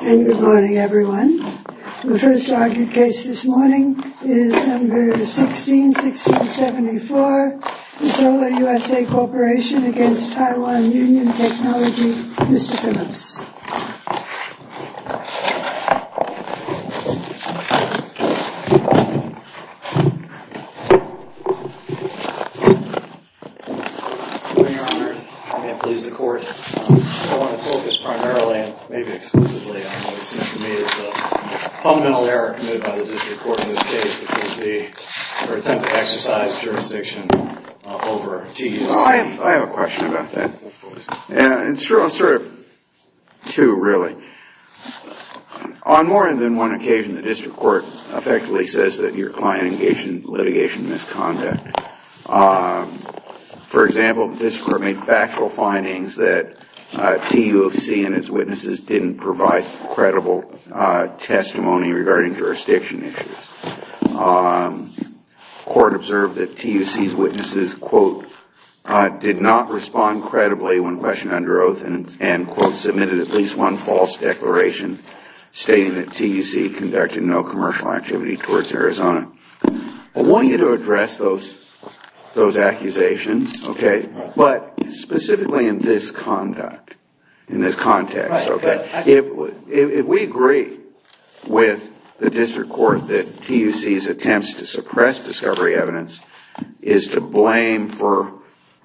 Good morning everyone. The first argued case this morning is No. 16-16-74, Isola USA Corporation v. Taiwan Union Technology, Mr. Phillips. Good morning, Your Honor. May it please the Court. I want to focus primarily and maybe exclusively on what seems to me is the fundamental error committed by the District Court in this case, which is their attempt to exercise jurisdiction over TUC. I have a question about that. It's sort of two, really. On more than one occasion, the District Court effectively says that your client engaged in litigation misconduct. For example, the District Court made factual findings that TUC and its witnesses didn't provide credible testimony regarding jurisdiction issues. The District Court observed that TUC's witnesses, quote, did not respond credibly when questioned under oath and, quote, submitted at least one false declaration stating that TUC conducted no commercial activity towards Arizona. I want you to address those accusations, okay, but specifically in this conduct, in this context, okay? If we agree with the District Court that TUC's attempts to suppress discovery evidence is to blame for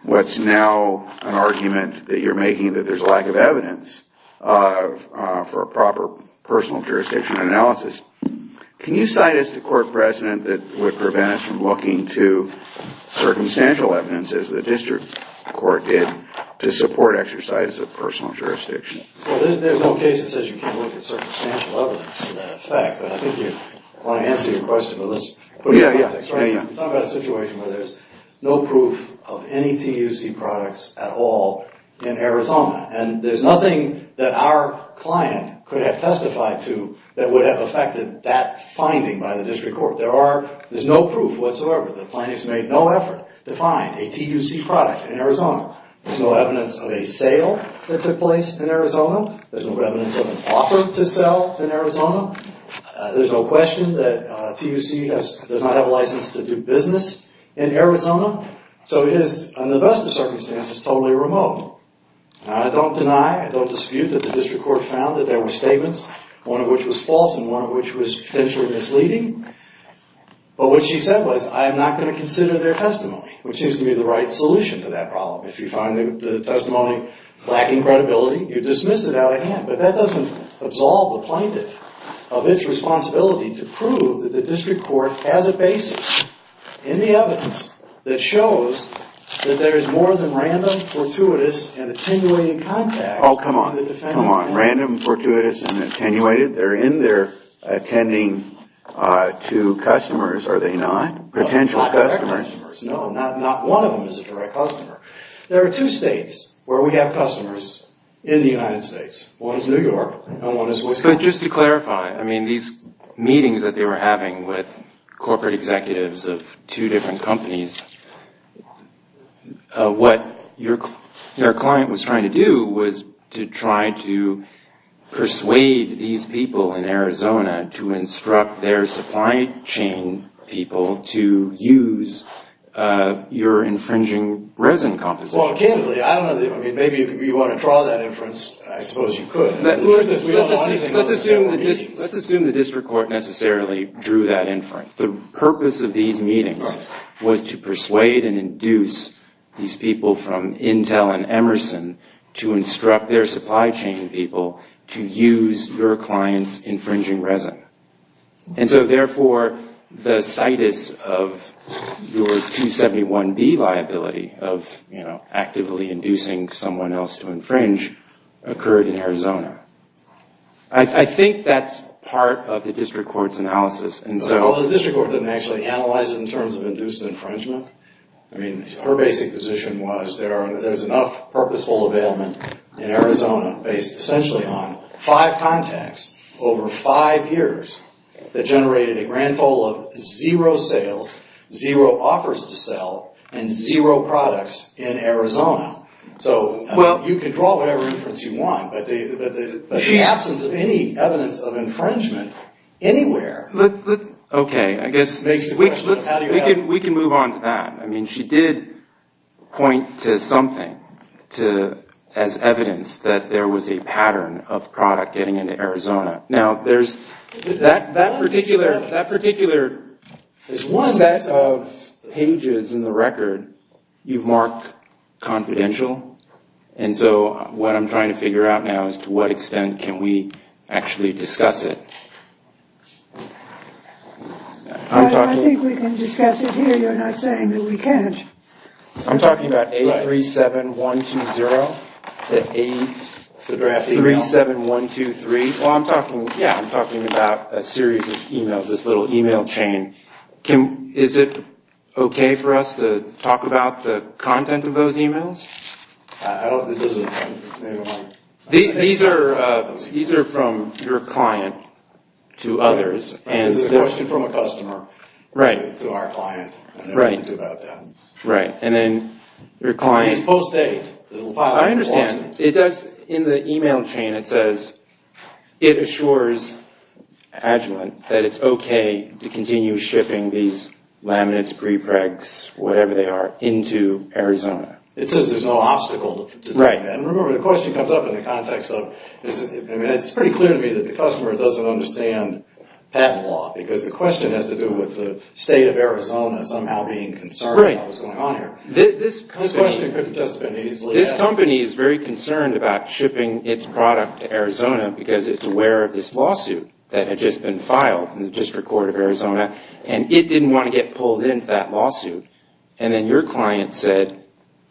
what's now an argument that you're making that there's lack of evidence for a proper personal jurisdiction analysis, can you cite as the court precedent that TUC did not provide credible testimony? Is there a precedent that would prevent us from looking to circumstantial evidence, as the District Court did, to support exercise of personal jurisdiction? Well, there's no case that says you can't look at circumstantial evidence to that effect, but I think you want to answer your question, but let's put it in context. We're talking about a situation where there's no proof of any TUC products at all in Arizona, and there's nothing that our client could have testified to that would have affected that finding by the District Court. There's no proof whatsoever that the plaintiff's made no effort to find a TUC product in Arizona. There's no evidence of a sale that took place in Arizona. There's no evidence of an offer to sell in Arizona. There's no question that TUC does not have a license to do business in Arizona, so it is, in the best of circumstances, totally remote. I don't deny, I don't dispute, that the District Court found that there were statements, one of which was false and one of which was potentially misleading, but what she said was, I am not going to consider their testimony, which seems to be the right solution to that problem. If you find the testimony lacking credibility, you dismiss it out of hand, but that doesn't absolve the plaintiff of its responsibility to prove that the District Court has a basis in the evidence that shows that there is more than random, fortuitous, and attenuated contact. There are two states where we have customers in the United States. One is New York and one is Wisconsin. But just to clarify, I mean, these meetings that they were having with corporate executives of two different companies, what their client was trying to do was to try to persuade these people in Arizona to instruct their supply chain people to use your infringing resin composition. Well, candidly, maybe if you want to draw that inference, I suppose you could. Let's assume the District Court necessarily drew that inference. The purpose of these meetings was to persuade and induce these people from Intel and Emerson to instruct their supply chain people to use your client's infringing resin. And so, therefore, the situs of your 271B liability of actively inducing someone else to infringe occurred in Arizona. I think that's part of the District Court's analysis. Well, the District Court didn't actually analyze it in terms of induced infringement. I mean, her basic position was there's enough purposeful availment in Arizona based essentially on five contacts over five years that generated a grand total of zero sales, zero offers to sell, and zero products in Arizona. So, you can draw whatever inference you want, but the absence of any evidence of infringement anywhere... Okay, I guess we can move on to that. I mean, she did point to something as evidence that there was a pattern of product getting into Arizona. Now, that particular set of pages in the record you've marked confidential, and so what I'm trying to figure out now is to what extent can we actually discuss it. I think we can discuss it here. You're not saying that we can't. I'm talking about A37120, A37123. Well, I'm talking about a series of emails, this little email chain. Is it okay for us to talk about the content of those emails? These are from your client to others. It's a question from a customer to our client. I never think about that. Right, and then your client... It's post-date. I understand. In the email chain it says it assures Agilent that it's okay to continue shipping these laminates, prepregs, whatever they are, into Arizona. So there's no obstacle to that. And remember, the question comes up in the context of... I mean, it's pretty clear to me that the customer doesn't understand patent law because the question has to do with the state of Arizona somehow being concerned about what's going on here. This question could have just been easily asked. This company is very concerned about shipping its product to Arizona because it's aware of this lawsuit that had just been filed in the District Court of Arizona, and it didn't want to get pulled into that lawsuit. And then your client said,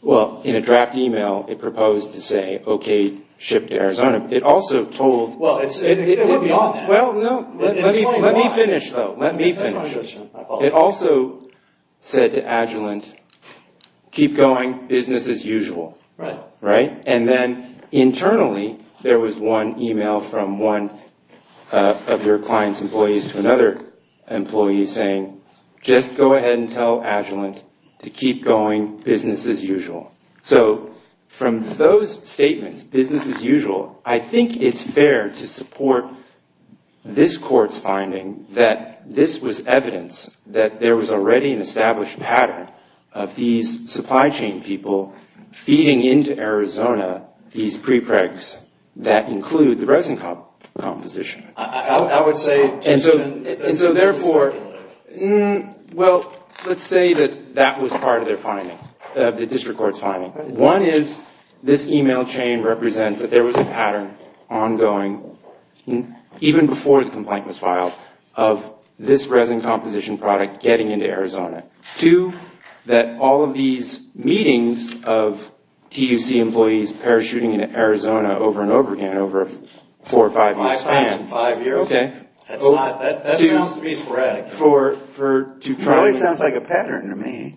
well, in a draft email, it proposed to say, okay, ship to Arizona. It also told... Well, let me finish, though. Let me finish. It also said to Agilent, keep going, business as usual. Right? And then internally, there was one email from one of your client's employees to another employee saying, just go ahead and tell Agilent to keep going, business as usual. So from those statements, business as usual, I think it's fair to support this court's finding that this was evidence that there was already an established pattern of these supply chain people feeding into Arizona these prepregs that include the resin composition. I would say... And so therefore... Well, let's say that that was part of their finding, the District Court's finding. One is this email chain represents that there was a pattern ongoing, even before the complaint was filed, of this resin composition product getting into Arizona. Two, that all of these meetings of TUC employees parachuting into Arizona over and over again, over a four or five-year span... Five times in five years? Okay. That sounds to me sporadic. It probably sounds like a pattern to me.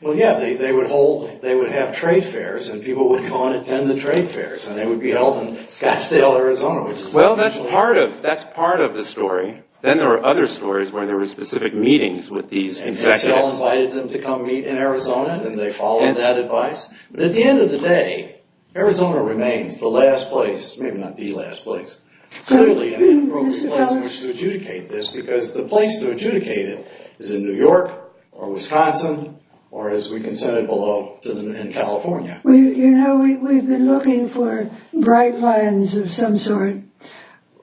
Well, yeah, they would have trade fairs, and people would go and attend the trade fairs, and they would be held in Scottsdale, Arizona, which is... Well, that's part of the story. Then there were other stories where there were specific meetings with these executives. And they all invited them to come meet in Arizona, and they followed that advice. But at the end of the day, Arizona remains the last place, maybe not the last place, clearly an inappropriate place in which to adjudicate this, because the place to adjudicate it is in New York, or Wisconsin, or as we can say below, in California. You know, we've been looking for bright lines of some sort.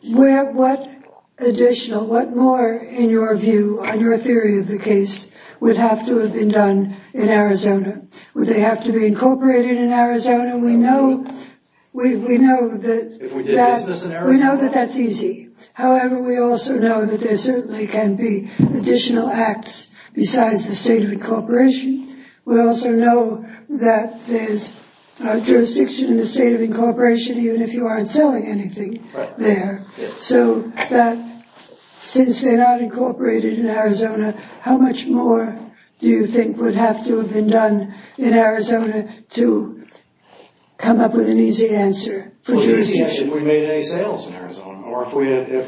What additional, what more, in your view, in your theory of the case, would have to have been done in Arizona? Would they have to be incorporated in Arizona? We know that that's easy. However, we also know that there certainly can be additional acts besides the state of incorporation. We also know that there's a jurisdiction in the state of incorporation, even if you aren't selling anything there. So that, since they're not incorporated in Arizona, how much more do you think would have to have been done in Arizona to come up with an easy answer? We made any sales in Arizona, or if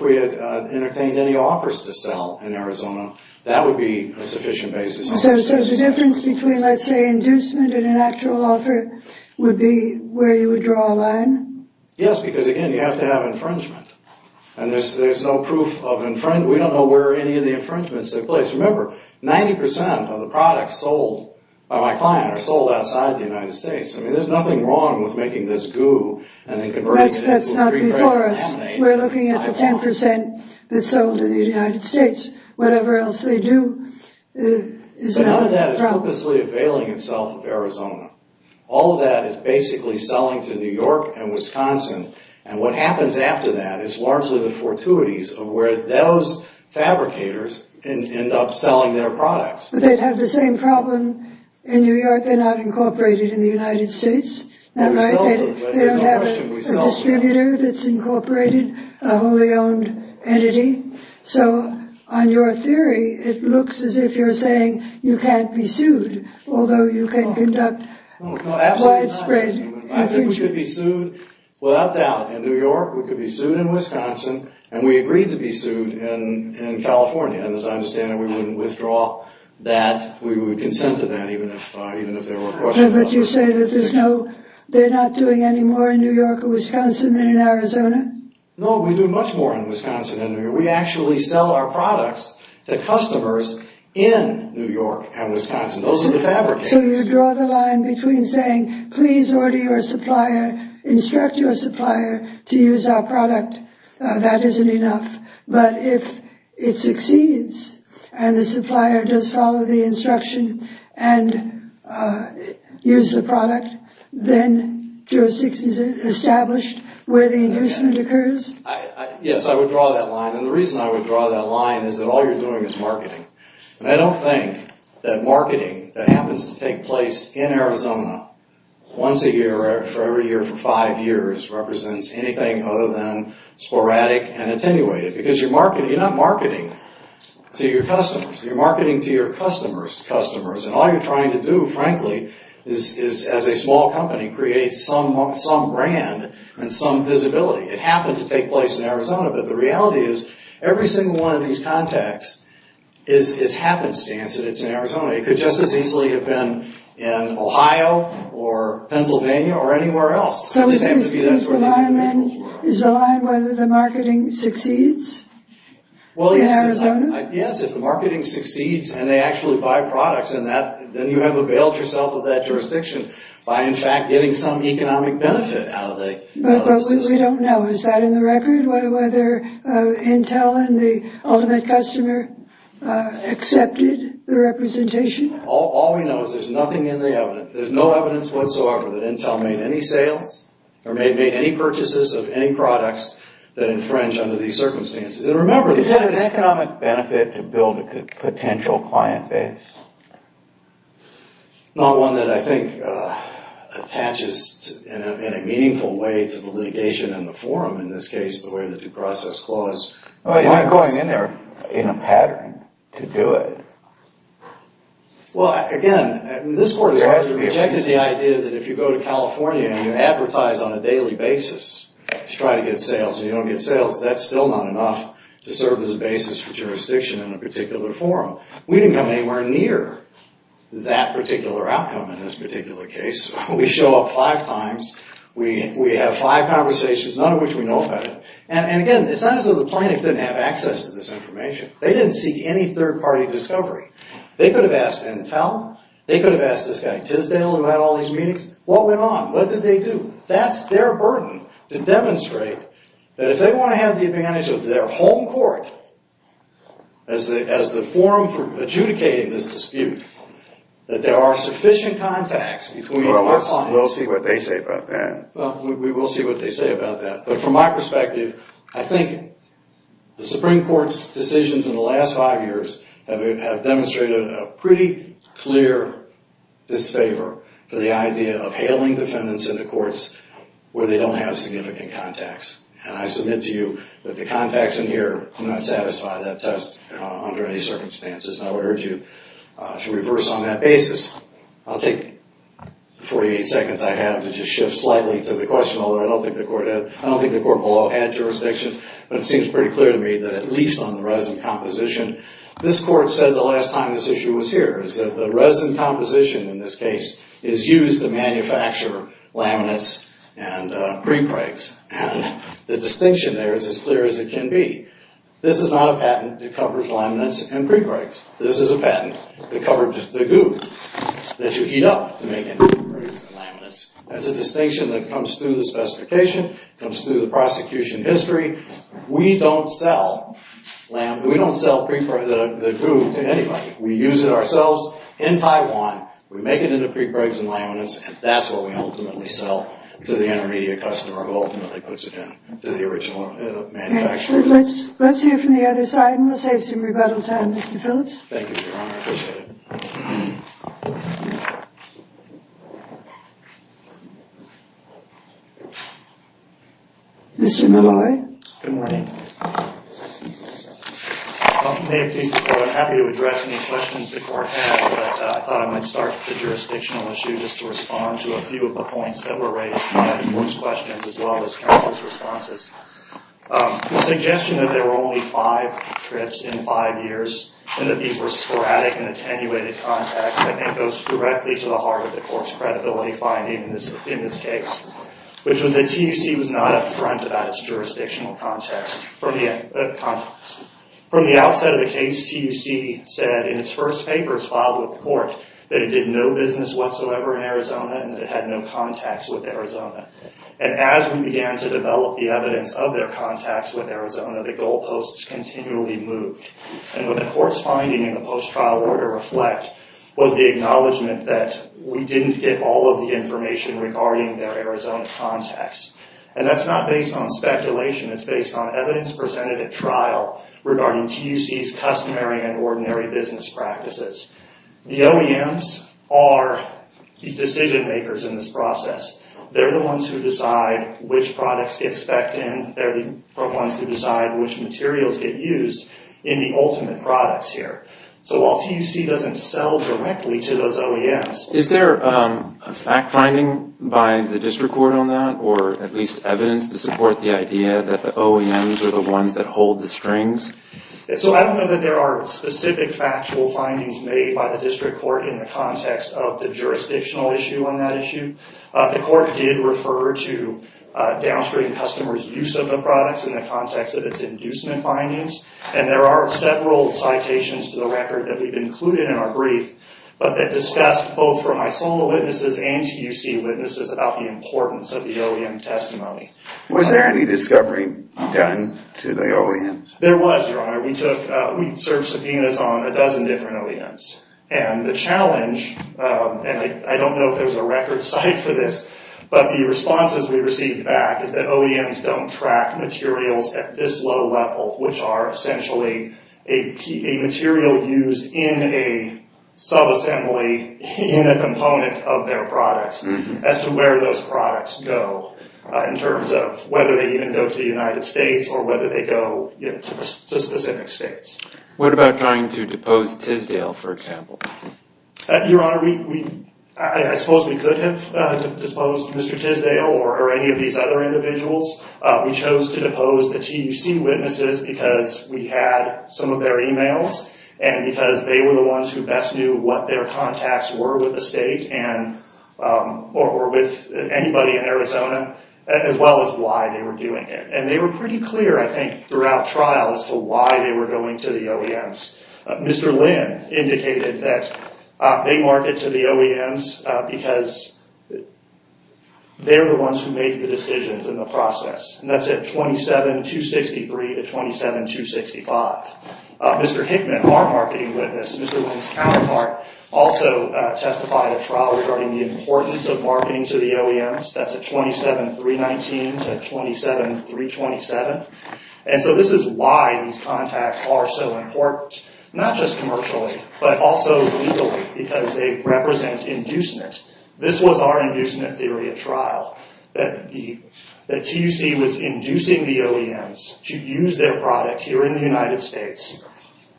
we had entertained any offers to sell in Arizona, that would be a sufficient basis. So the difference between, let's say, inducement and an actual offer would be where you would draw a line? Yes, because, again, you have to have infringement. And there's no proof of infringement. We don't know where any of the infringements took place. Remember, 90% of the products sold by my client are sold outside the United States. I mean, there's nothing wrong with making this goo and then converting it into a green grape lemonade. That's not before us. We're looking at the 10% that's sold in the United States. Whatever else they do is another problem. But none of that is purposely availing itself of Arizona. All of that is basically selling to New York and Wisconsin. And what happens after that is largely the fortuities of where those fabricators end up selling their products. But they'd have the same problem in New York. They're not incorporated in the United States. They don't have a distributor that's incorporated, a wholly owned entity. So on your theory, it looks as if you're saying you can't be sued, although you can conduct widespread infringement. No, absolutely not. I think we could be sued without doubt in New York. We could be sued in Wisconsin. And we agreed to be sued in California. And as I understand it, we wouldn't withdraw that. We would consent to that even if there were questions about it. But you say that there's no – they're not doing any more in New York or Wisconsin than in Arizona? No, we do much more in Wisconsin than New York. We actually sell our products to customers in New York and Wisconsin. Those are the fabricators. So you draw the line between saying, please order your supplier, instruct your supplier to use our product. That isn't enough. But if it succeeds and the supplier does follow the instruction and use the product, then jurisdiction is established where the inducement occurs? Yes, I would draw that line. And the reason I would draw that line is that all you're doing is marketing. And I don't think that marketing that happens to take place in Arizona once a year or every year for five years represents anything other than sporadic and attenuated because you're not marketing to your customers. You're marketing to your customers' customers. And all you're trying to do, frankly, is as a small company, create some brand and some visibility. It happened to take place in Arizona, but the reality is every single one of these contacts is happenstance that it's in Arizona. It could just as easily have been in Ohio or Pennsylvania or anywhere else. So is the line whether the marketing succeeds in Arizona? Yes, if the marketing succeeds and they actually buy products, then you have availed yourself of that jurisdiction by, in fact, getting some economic benefit out of the system. But what we don't know, is that in the record? Whether Intel and the ultimate customer accepted the representation? All we know is there's nothing in the evidence. There's no evidence whatsoever that Intel made any sales or made any purchases of any products that infringe under these circumstances. And remember, the fact is— Is that an economic benefit to build a potential client base? Not one that I think attaches in a meaningful way to the litigation and the forum. In this case, the way the due process clause— You're not going in there in a pattern to do it. Well, again, this court has rejected the idea that if you go to California and you advertise on a daily basis to try to get sales, and you don't get sales, that's still not enough to serve as a basis for jurisdiction in a particular forum. We didn't come anywhere near that particular outcome in this particular case. We show up five times. We have five conversations, none of which we know about. And again, it's not as though the plaintiff didn't have access to this information. They didn't seek any third-party discovery. They could have asked Intel. They could have asked this guy, Tisdale, who had all these meetings. What went on? What did they do? That's their burden to demonstrate that if they want to have the advantage of their home court as the forum for adjudicating this dispute, that there are sufficient contacts between our clients— Well, we'll see what they say about that. Well, we will see what they say about that. But from my perspective, I think the Supreme Court's decisions in the last five years have demonstrated a pretty clear disfavor to the idea of hailing defendants into courts where they don't have significant contacts. And I submit to you that the contacts in here do not satisfy that test under any circumstances, and I would urge you to reverse on that basis. I'll take the 48 seconds I have to just shift slightly to the question, although I don't think the court below had jurisdiction, but it seems pretty clear to me that at least on the resin composition, this Court said the last time this issue was here, is that the resin composition in this case is used to manufacture laminates and prepregs. And the distinction there is as clear as it can be. This is not a patent that covers laminates and prepregs. This is a patent that covers the goo that you heat up to make into prepregs and laminates. That's a distinction that comes through the specification, comes through the prosecution history. We don't sell the goo to anybody. We use it ourselves in Taiwan. We make it into prepregs and laminates, and that's what we ultimately sell to the intermediate customer who ultimately puts it into the original manufacturer. Let's hear from the other side, and we'll save some rebuttal time. Mr. Phillips? Thank you, Your Honor, I appreciate it. Mr. Malloy? Good morning. May it please the Court, I'm happy to address any questions the Court has, but I thought I might start with a jurisdictional issue just to respond to a few of the points that were raised in both questions as well as counsel's responses. The suggestion that there were only five trips in five years and that these were sporadic and attenuated contacts, I think, goes directly to the heart of the Court's credibility finding in this case, which was that TUC was not upfront about its jurisdictional context. From the outset of the case, TUC said in its first papers filed with the Court that it did no business whatsoever in Arizona and that it had no contacts with Arizona. And as we began to develop the evidence of their contacts with Arizona, the goalposts continually moved. And what the Court's finding in the post-trial order reflect was the acknowledgement that we didn't get all of the information regarding their Arizona contacts. And that's not based on speculation, it's based on evidence presented at trial regarding TUC's customary and ordinary business practices. The OEMs are the decision-makers in this process. They're the ones who decide which products get specced in. They're the ones who decide which materials get used in the ultimate products here. So while TUC doesn't sell directly to those OEMs... Is there a fact-finding by the District Court on that, or at least evidence to support the idea that the OEMs are the ones that hold the strings? So I don't know that there are specific factual findings made by the District Court in the context of the jurisdictional issue on that issue. The Court did refer to downstream customers' use of the products in the context of its inducement findings. And there are several citations to the record that we've included in our brief that discussed both from my sole witnesses and TUC witnesses about the importance of the OEM testimony. Was there any discovery done to the OEMs? There was, Your Honor. We served subpoenas on a dozen different OEMs. And the challenge, and I don't know if there's a record site for this, but the responses we received back is that OEMs don't track materials at this low level, which are essentially a material used in a subassembly in a component of their products, as to where those products go in terms of whether they even go to the United States or whether they go to specific states. What about trying to depose Tisdale, for example? Your Honor, I suppose we could have disposed Mr. Tisdale or any of these other individuals. We chose to depose the TUC witnesses because we had some of their e-mails and because they were the ones who best knew what their contacts were with the state or with anybody in Arizona, as well as why they were doing it. And they were pretty clear, I think, throughout trial as to why they were going to the OEMs. Mr. Lin indicated that they market to the OEMs because they're the ones who made the decisions in the process. And that's at 27263 to 27265. Mr. Hickman, our marketing witness, Mr. Lin's counterpart, also testified at trial regarding the importance of marketing to the OEMs. That's at 27319 to 27327. And so this is why these contacts are so important, not just commercially, but also legally because they represent inducement. This was our inducement theory at trial, that the TUC was inducing the OEMs to use their product here in the United States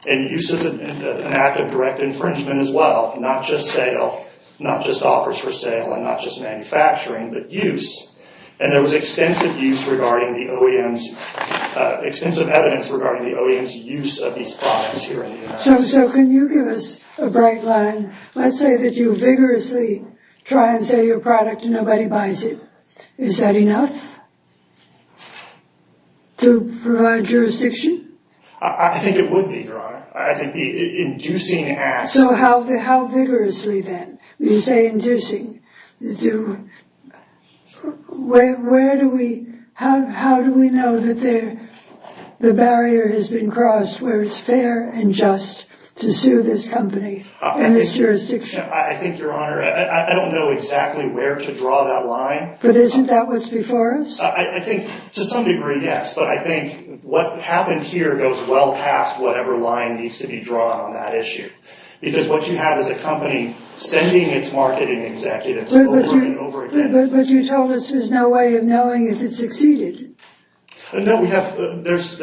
and use it as an act of direct infringement as well, not just sale, not just offers for sale, and not just manufacturing, but use. And there was extensive use regarding the OEMs, extensive evidence regarding the OEMs' use of these products here in the United States. So can you give us a bright line? Let's say that you vigorously try and sell your product and nobody buys it. Is that enough to provide jurisdiction? I think it would be, Your Honor. So how vigorously, then, do you say inducing? How do we know that the barrier has been crossed where it's fair and just to sue this company and its jurisdiction? I think, Your Honor, I don't know exactly where to draw that line. But isn't that what's before us? I think to some degree, yes. But I think what happened here goes well past whatever line needs to be drawn on that issue. Because what you have is a company sending its marketing executives over and over again. But you told us there's no way of knowing if it succeeded. No, there's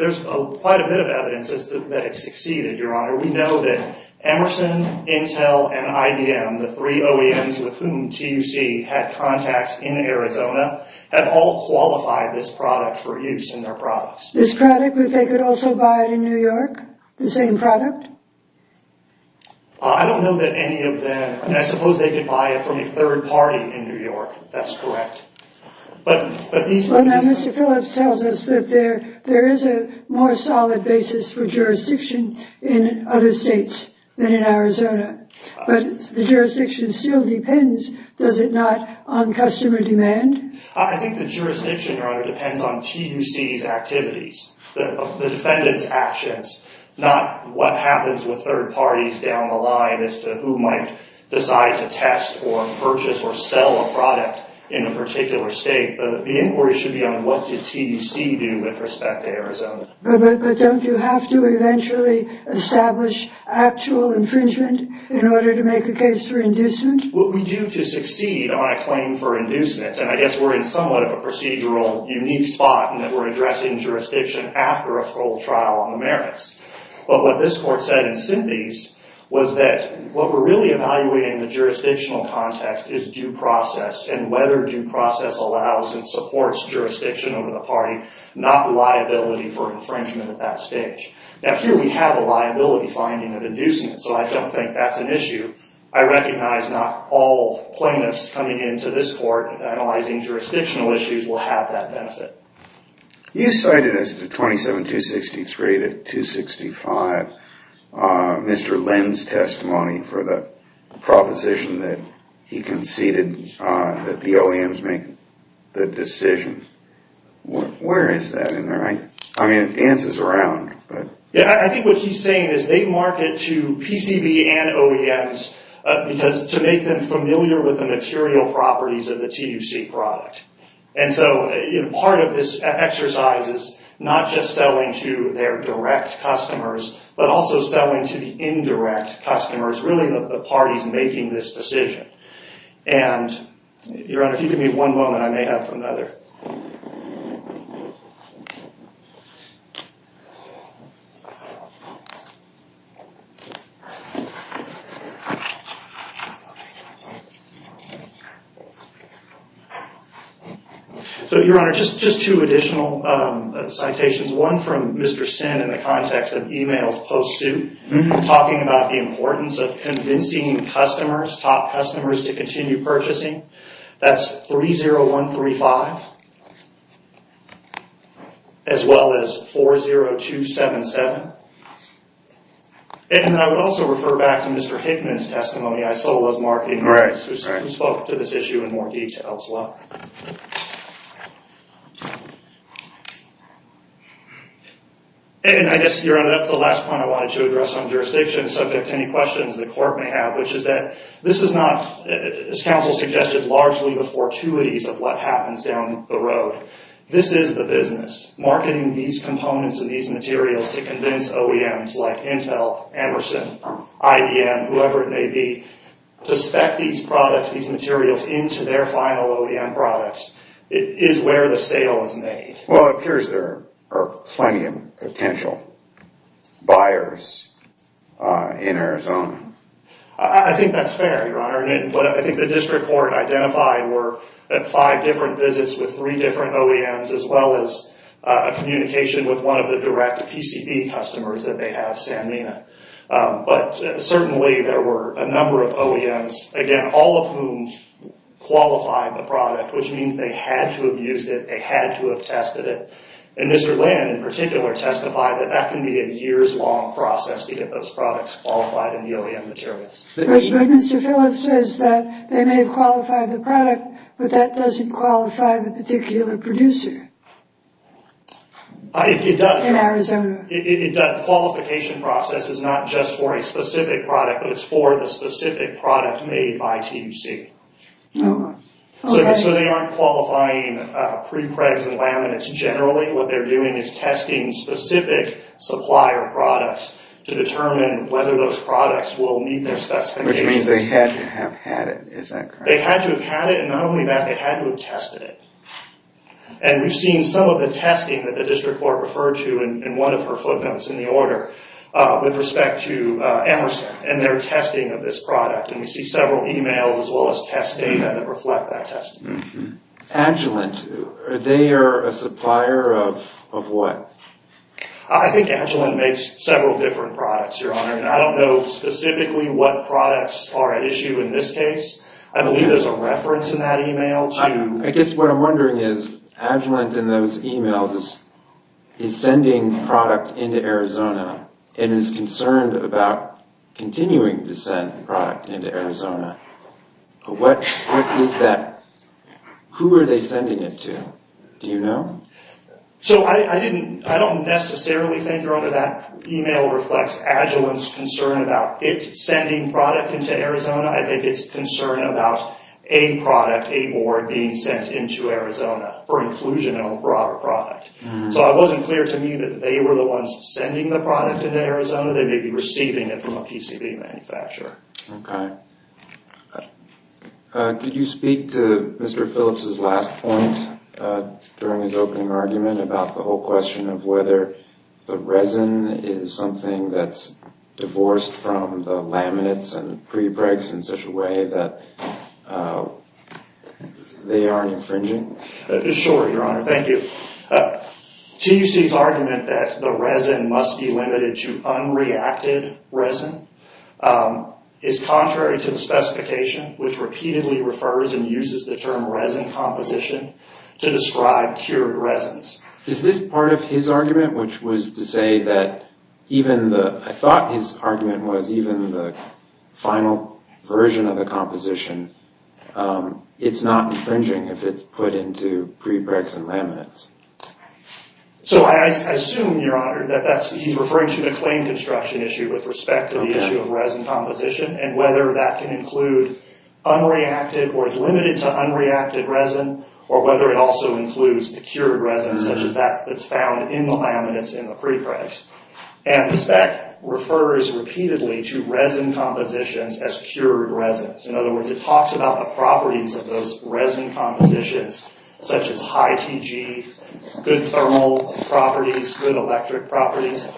quite a bit of evidence that it succeeded, Your Honor. We know that Emerson, Intel, and IBM, the three OEMs with whom TUC had contacts in Arizona, have all qualified this product for use in their products. This product, but they could also buy it in New York? The same product? I don't know that any of them. I suppose they could buy it from a third party in New York. That's correct. Now, Mr. Phillips tells us that there is a more solid basis for jurisdiction in other states than in Arizona. But the jurisdiction still depends, does it not, on customer demand? I think the jurisdiction, Your Honor, depends on TUC's activities, the defendant's actions, not what happens with third parties down the line as to who might decide to test or purchase or sell a product in a particular state. The inquiry should be on what did TUC do with respect to Arizona. But don't you have to eventually establish actual infringement in order to make a case for inducement? What we do to succeed on a claim for inducement, and I guess we're in somewhat of a procedural unique spot in that we're addressing jurisdiction after a full trial on the merits. But what this court said in synthese was that what we're really evaluating in the jurisdictional context is due process and whether due process allows and supports jurisdiction over the party, not liability for infringement at that stage. Now, here we have a liability finding of inducement, so I don't think that's an issue. I recognize not all plaintiffs coming into this court analyzing jurisdictional issues will have that benefit. You cited as 27263 to 265 Mr. Lynn's testimony for the proposition that he conceded that the OEMs make the decision. Where is that in there? I mean, it dances around. I think what he's saying is they market to PCB and OEMs to make them familiar with the material properties of the TUC product. And so part of this exercise is not just selling to their direct customers, but also selling to the indirect customers, really the parties making this decision. And, Your Honor, if you could give me one moment, I may have another. So, Your Honor, just two additional citations. One from Mr. Sin in the context of e-mails post-suit, talking about the importance of convincing customers, top customers, to continue purchasing. That's 30135, as well as 40277. And I would also refer back to Mr. Hickman's testimony, Isola's marketing advice, who spoke to this issue in more detail as well. And I guess, Your Honor, that's the last point I wanted to address on jurisdiction subject to any questions the court may have, which is that this is not, as counsel suggested, largely the fortuities of what happens down the road. This is the business. Marketing these components and these materials to convince OEMs like Intel, Emerson, IBM, whoever it may be, to spec these products, these materials, into their final OEM products is where the sale is made. Well, it appears there are plenty of potential buyers in Arizona. I think that's fair, Your Honor. But I think the district court identified five different visits with three different OEMs, as well as a communication with one of the direct PCB customers that they have, Sanmina. But certainly there were a number of OEMs, again, all of whom qualified the product, which means they had to have used it, they had to have tested it. And Mr. Land, in particular, testified that that can be a years-long process to get those products qualified in the OEM materials. But Mr. Phillips says that they may have qualified the product, but that doesn't qualify the particular producer in Arizona. It does. The qualification process is not just for a specific product, but it's for the specific product made by THC. So they aren't qualifying prepregs and laminates generally. What they're doing is testing specific supplier products to determine whether those products will meet their specifications. Which means they had to have had it, is that correct? They had to have had it, and not only that, they had to have tested it. And we've seen some of the testing that the district court referred to in one of her footnotes in the order with respect to Emerson and their testing of this product. And we see several emails as well as test data that reflect that testing. Agilent, they are a supplier of what? I think Agilent makes several different products, Your Honor. And I don't know specifically what products are at issue in this case. I believe there's a reference in that email to... I guess what I'm wondering is, Agilent in those emails is sending product into Arizona and is concerned about continuing to send product into Arizona. What is that? Who are they sending it to? Do you know? So I don't necessarily think, Your Honor, that email reflects Agilent's concern about it sending product into Arizona. I think it's concern about a product, a board, being sent into Arizona for inclusion in a broader product. So it wasn't clear to me that they were the ones sending the product into Arizona. They may be receiving it from a PCB manufacturer. Okay. Could you speak to Mr. Phillips' last point during his opening argument about the whole question of whether the resin is something that's divorced from the laminates and prepregs in such a way that they aren't infringing? Sure, Your Honor. Thank you. TUC's argument that the resin must be limited to unreacted resin is contrary to the specification, which repeatedly refers and uses the term resin composition to describe cured resins. Is this part of his argument, which was to say that even the... I thought his argument was even the final version of the composition, it's not infringing if it's put into prepregs and laminates. So I assume, Your Honor, that he's referring to the claim construction issue with respect to the issue of resin composition and whether that can include unreacted or is limited to unreacted resin or whether it also includes the cured resin, such as that that's found in the laminates in the prepregs. And the spec refers repeatedly to resin compositions as cured resins. In other words, it talks about the properties of those resin compositions, such as high TG, good thermal properties, good electric properties.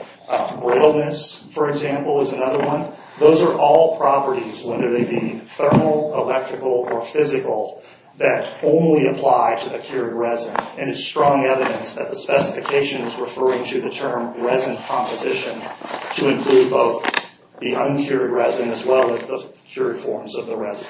Brittleness, for example, is another one. Those are all properties, whether they be thermal, electrical, or physical, that only apply to the cured resin. And it's strong evidence that the specification is referring to the term resin composition to include both the uncured resin as well as the cured forms of the resin.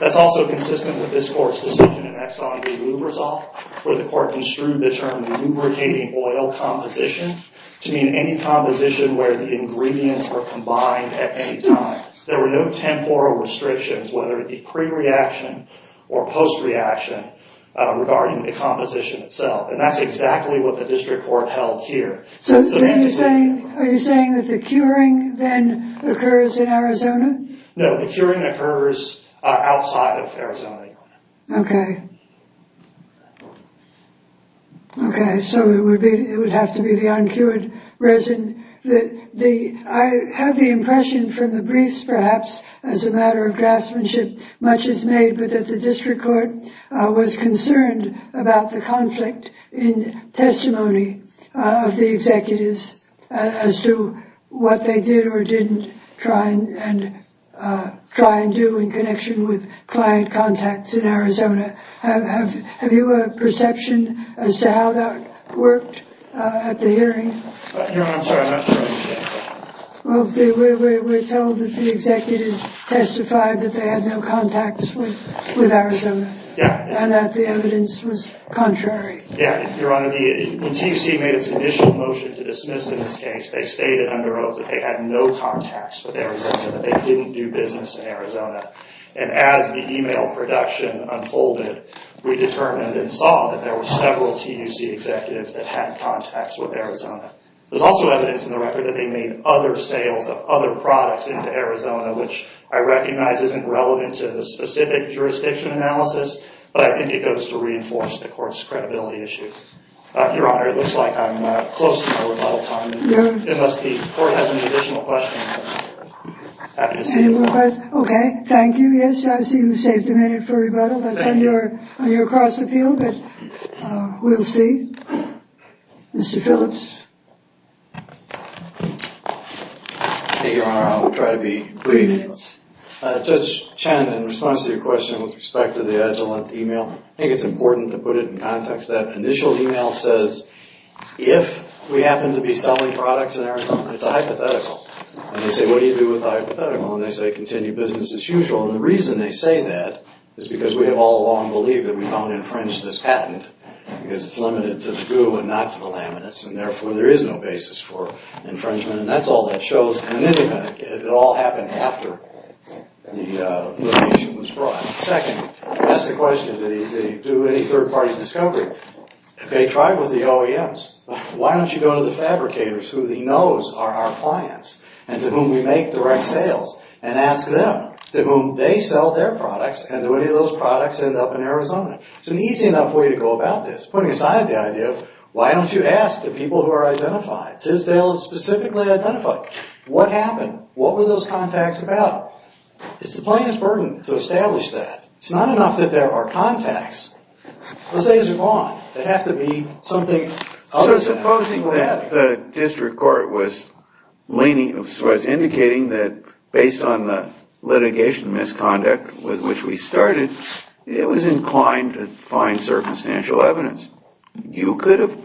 That's also consistent with this court's decision in Exxon v. Lubrizol, where the court construed the term lubricating oil composition to mean any composition where the ingredients were combined at any time. There were no temporal restrictions, whether it be pre-reaction or post-reaction, regarding the composition itself. And that's exactly what the district court held here. So are you saying that the curing then occurs in Arizona? No, the curing occurs outside of Arizona. Okay. Okay, so it would have to be the uncured resin. I have the impression from the briefs, perhaps, as a matter of craftsmanship, much is made but that the district court was concerned about the conflict in testimony of the executives as to what they did or didn't try and do in connection with client contacts in Arizona. Have you a perception as to how that worked at the hearing? No, I'm sorry, I'm not sure I understand. Well, we're told that the executives testified that they had no contacts with Arizona. Yeah. And that the evidence was contrary. Yeah, Your Honor, when TUC made its initial motion to dismiss in this case, they stated under oath that they had no contacts with Arizona, that they didn't do business in Arizona. And as the email production unfolded, we determined and saw that there were several TUC executives that had contacts with Arizona. There's also evidence in the record that they made other sales of other products into Arizona, which I recognize isn't relevant to the specific jurisdiction analysis, but I think it goes to reinforce the court's credibility issue. Your Honor, it looks like I'm close to my rebuttal time, unless the court has any additional questions. Happy to see you. Any more questions? Okay, thank you. Yes, I see you saved a minute for rebuttal. That's on your cross appeal, but we'll see. Mr. Phillips. Thank you, Your Honor. I'll try to be brief. Judge Chen, in response to your question with respect to the Agilent email, I think it's important to put it in context. That initial email says, if we happen to be selling products in Arizona, it's a hypothetical. And they say, what do you do with a hypothetical? And they say, continue business as usual. And the reason they say that is because we have all along believed that we don't infringe this patent because it's limited to the goo and not to the laminates, and therefore there is no basis for infringement. And that's all that shows. It all happened after the location was brought. Second, that's the question, did he do any third-party discovery? They tried with the OEMs. Why don't you go to the fabricators, who he knows are our clients and to whom we make direct sales, and ask them to whom they sell their products and do any of those products end up in Arizona? It's an easy enough way to go about this, putting aside the idea of why don't you ask the people who are identified? Tisdale is specifically identified. What happened? What were those contacts about? It's the plaintiff's burden to establish that. It's not enough that there are contacts. Those days are gone. They have to be something other than problematic. So supposing that the district court was indicating that based on the litigation misconduct with which we started, it was inclined to find circumstantial evidence. You could have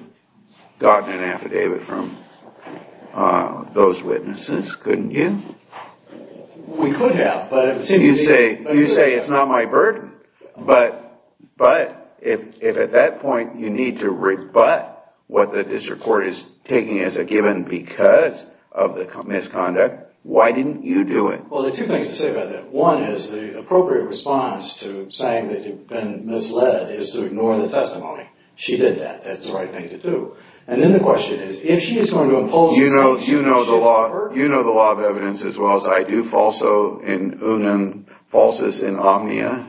gotten an affidavit from those witnesses, couldn't you? We could have. You say it's not my burden. But if at that point you need to rebut what the district court is taking as a given because of the misconduct, why didn't you do it? Well, there are two things to say about that. One is the appropriate response to saying that you've been misled is to ignore the testimony. She did that. That's the right thing to do. And then the question is, if she is going to impose a sanction, you know the law of evidence as well as I do, falso in unum, falsus in omnia?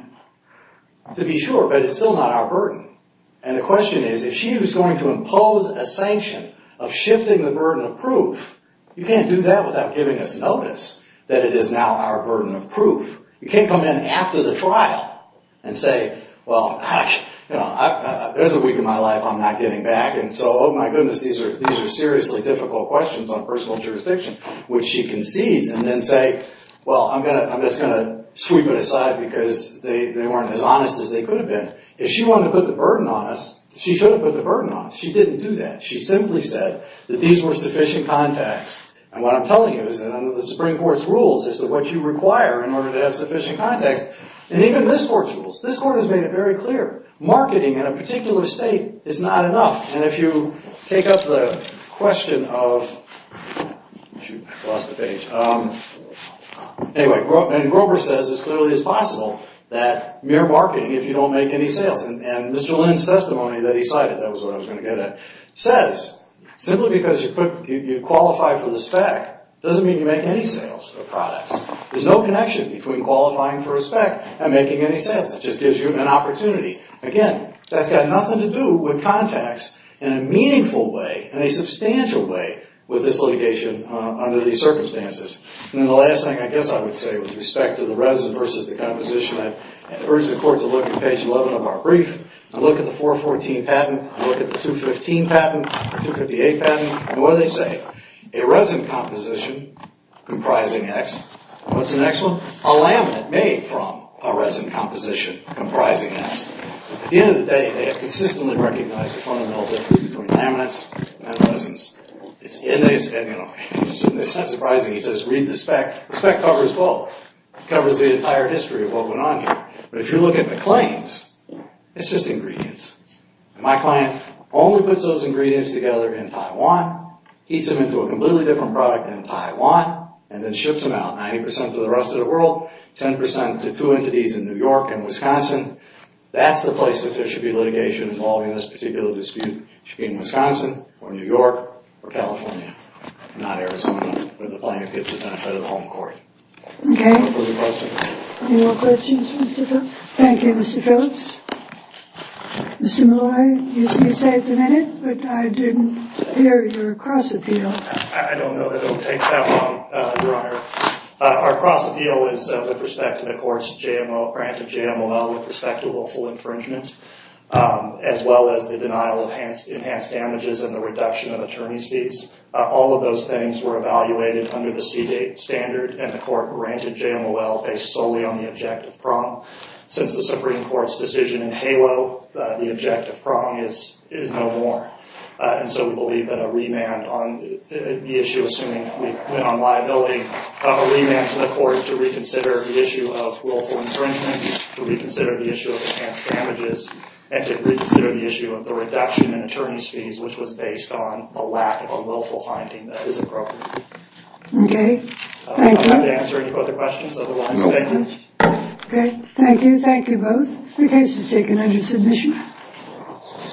To be sure, but it's still not our burden. And the question is, if she was going to impose a sanction of shifting the burden of proof, you can't do that without giving us notice that it is now our burden of proof. You can't come in after the trial and say, well, there's a week in my life I'm not getting back, and so, oh, my goodness, these are seriously difficult questions on personal jurisdiction, which she concedes, and then say, well, I'm just going to sweep it aside because they weren't as honest as they could have been. If she wanted to put the burden on us, she should have put the burden on us. She didn't do that. She simply said that these were sufficient contacts. And what I'm telling you is that under the Supreme Court's rules is that what you require in order to have sufficient contacts, and even in this Court's rules, this Court has made it very clear, marketing in a particular state is not enough. And if you take up the question of... Shoot, I lost the page. Anyway, and Grover says it clearly is possible that mere marketing, if you don't make any sales, and Mr. Lynn's testimony that he cited, that was what I was going to get at, says simply because you qualify for the spec doesn't mean you make any sales of products. There's no connection between qualifying for a spec and making any sales. It just gives you an opportunity. Again, that's got nothing to do with contacts in a meaningful way, in a substantial way, with this litigation under these circumstances. And then the last thing I guess I would say with respect to the resin versus the composition, I'd urge the Court to look at page 11 of our brief and look at the 414 patent, look at the 215 patent, 258 patent, and what do they say? A resin composition comprising X. What's the next one? A laminate made from a resin composition comprising X. At the end of the day, they have consistently recognized the fundamental difference between laminates and resins. It's not surprising. He says, read the spec. The spec covers both. It covers the entire history of what went on here. But if you look at the claims, it's just ingredients. And my client only puts those ingredients together in Taiwan, heats them into a completely different product in Taiwan, and then ships them out 90% to the rest of the world, 10% to two entities in New York and Wisconsin. That's the place that there should be litigation involving this particular dispute. It should be in Wisconsin or New York or California, not Arizona, where the plaintiff gets the benefit of the home court. Any further questions? Any more questions, Mr. Cook? Thank you, Mr. Phillips. Mr. Malloy, you saved a minute, but I didn't hear your cross-appeal. I don't know that it will take that long, Your Honor. Our cross-appeal is with respect to the court's granted JMOL with respect to willful infringement, as well as the denial of enhanced damages and the reduction of attorney's fees. All of those things were evaluated under the CDATE standard, and the court granted JMOL based solely on the objective prong. Since the Supreme Court's decision in HALO, the objective prong is no more. And so we believe that a remand on the issue, assuming we went on liability, a remand to the court to reconsider the issue of willful infringement, to reconsider the issue of enhanced damages, and to reconsider the issue of the reduction in attorney's fees, which was based on a lack of a willful finding that is appropriate. Okay. Thank you. I'm happy to answer any further questions. Okay. Thank you. Thank you both. The case is taken under submission.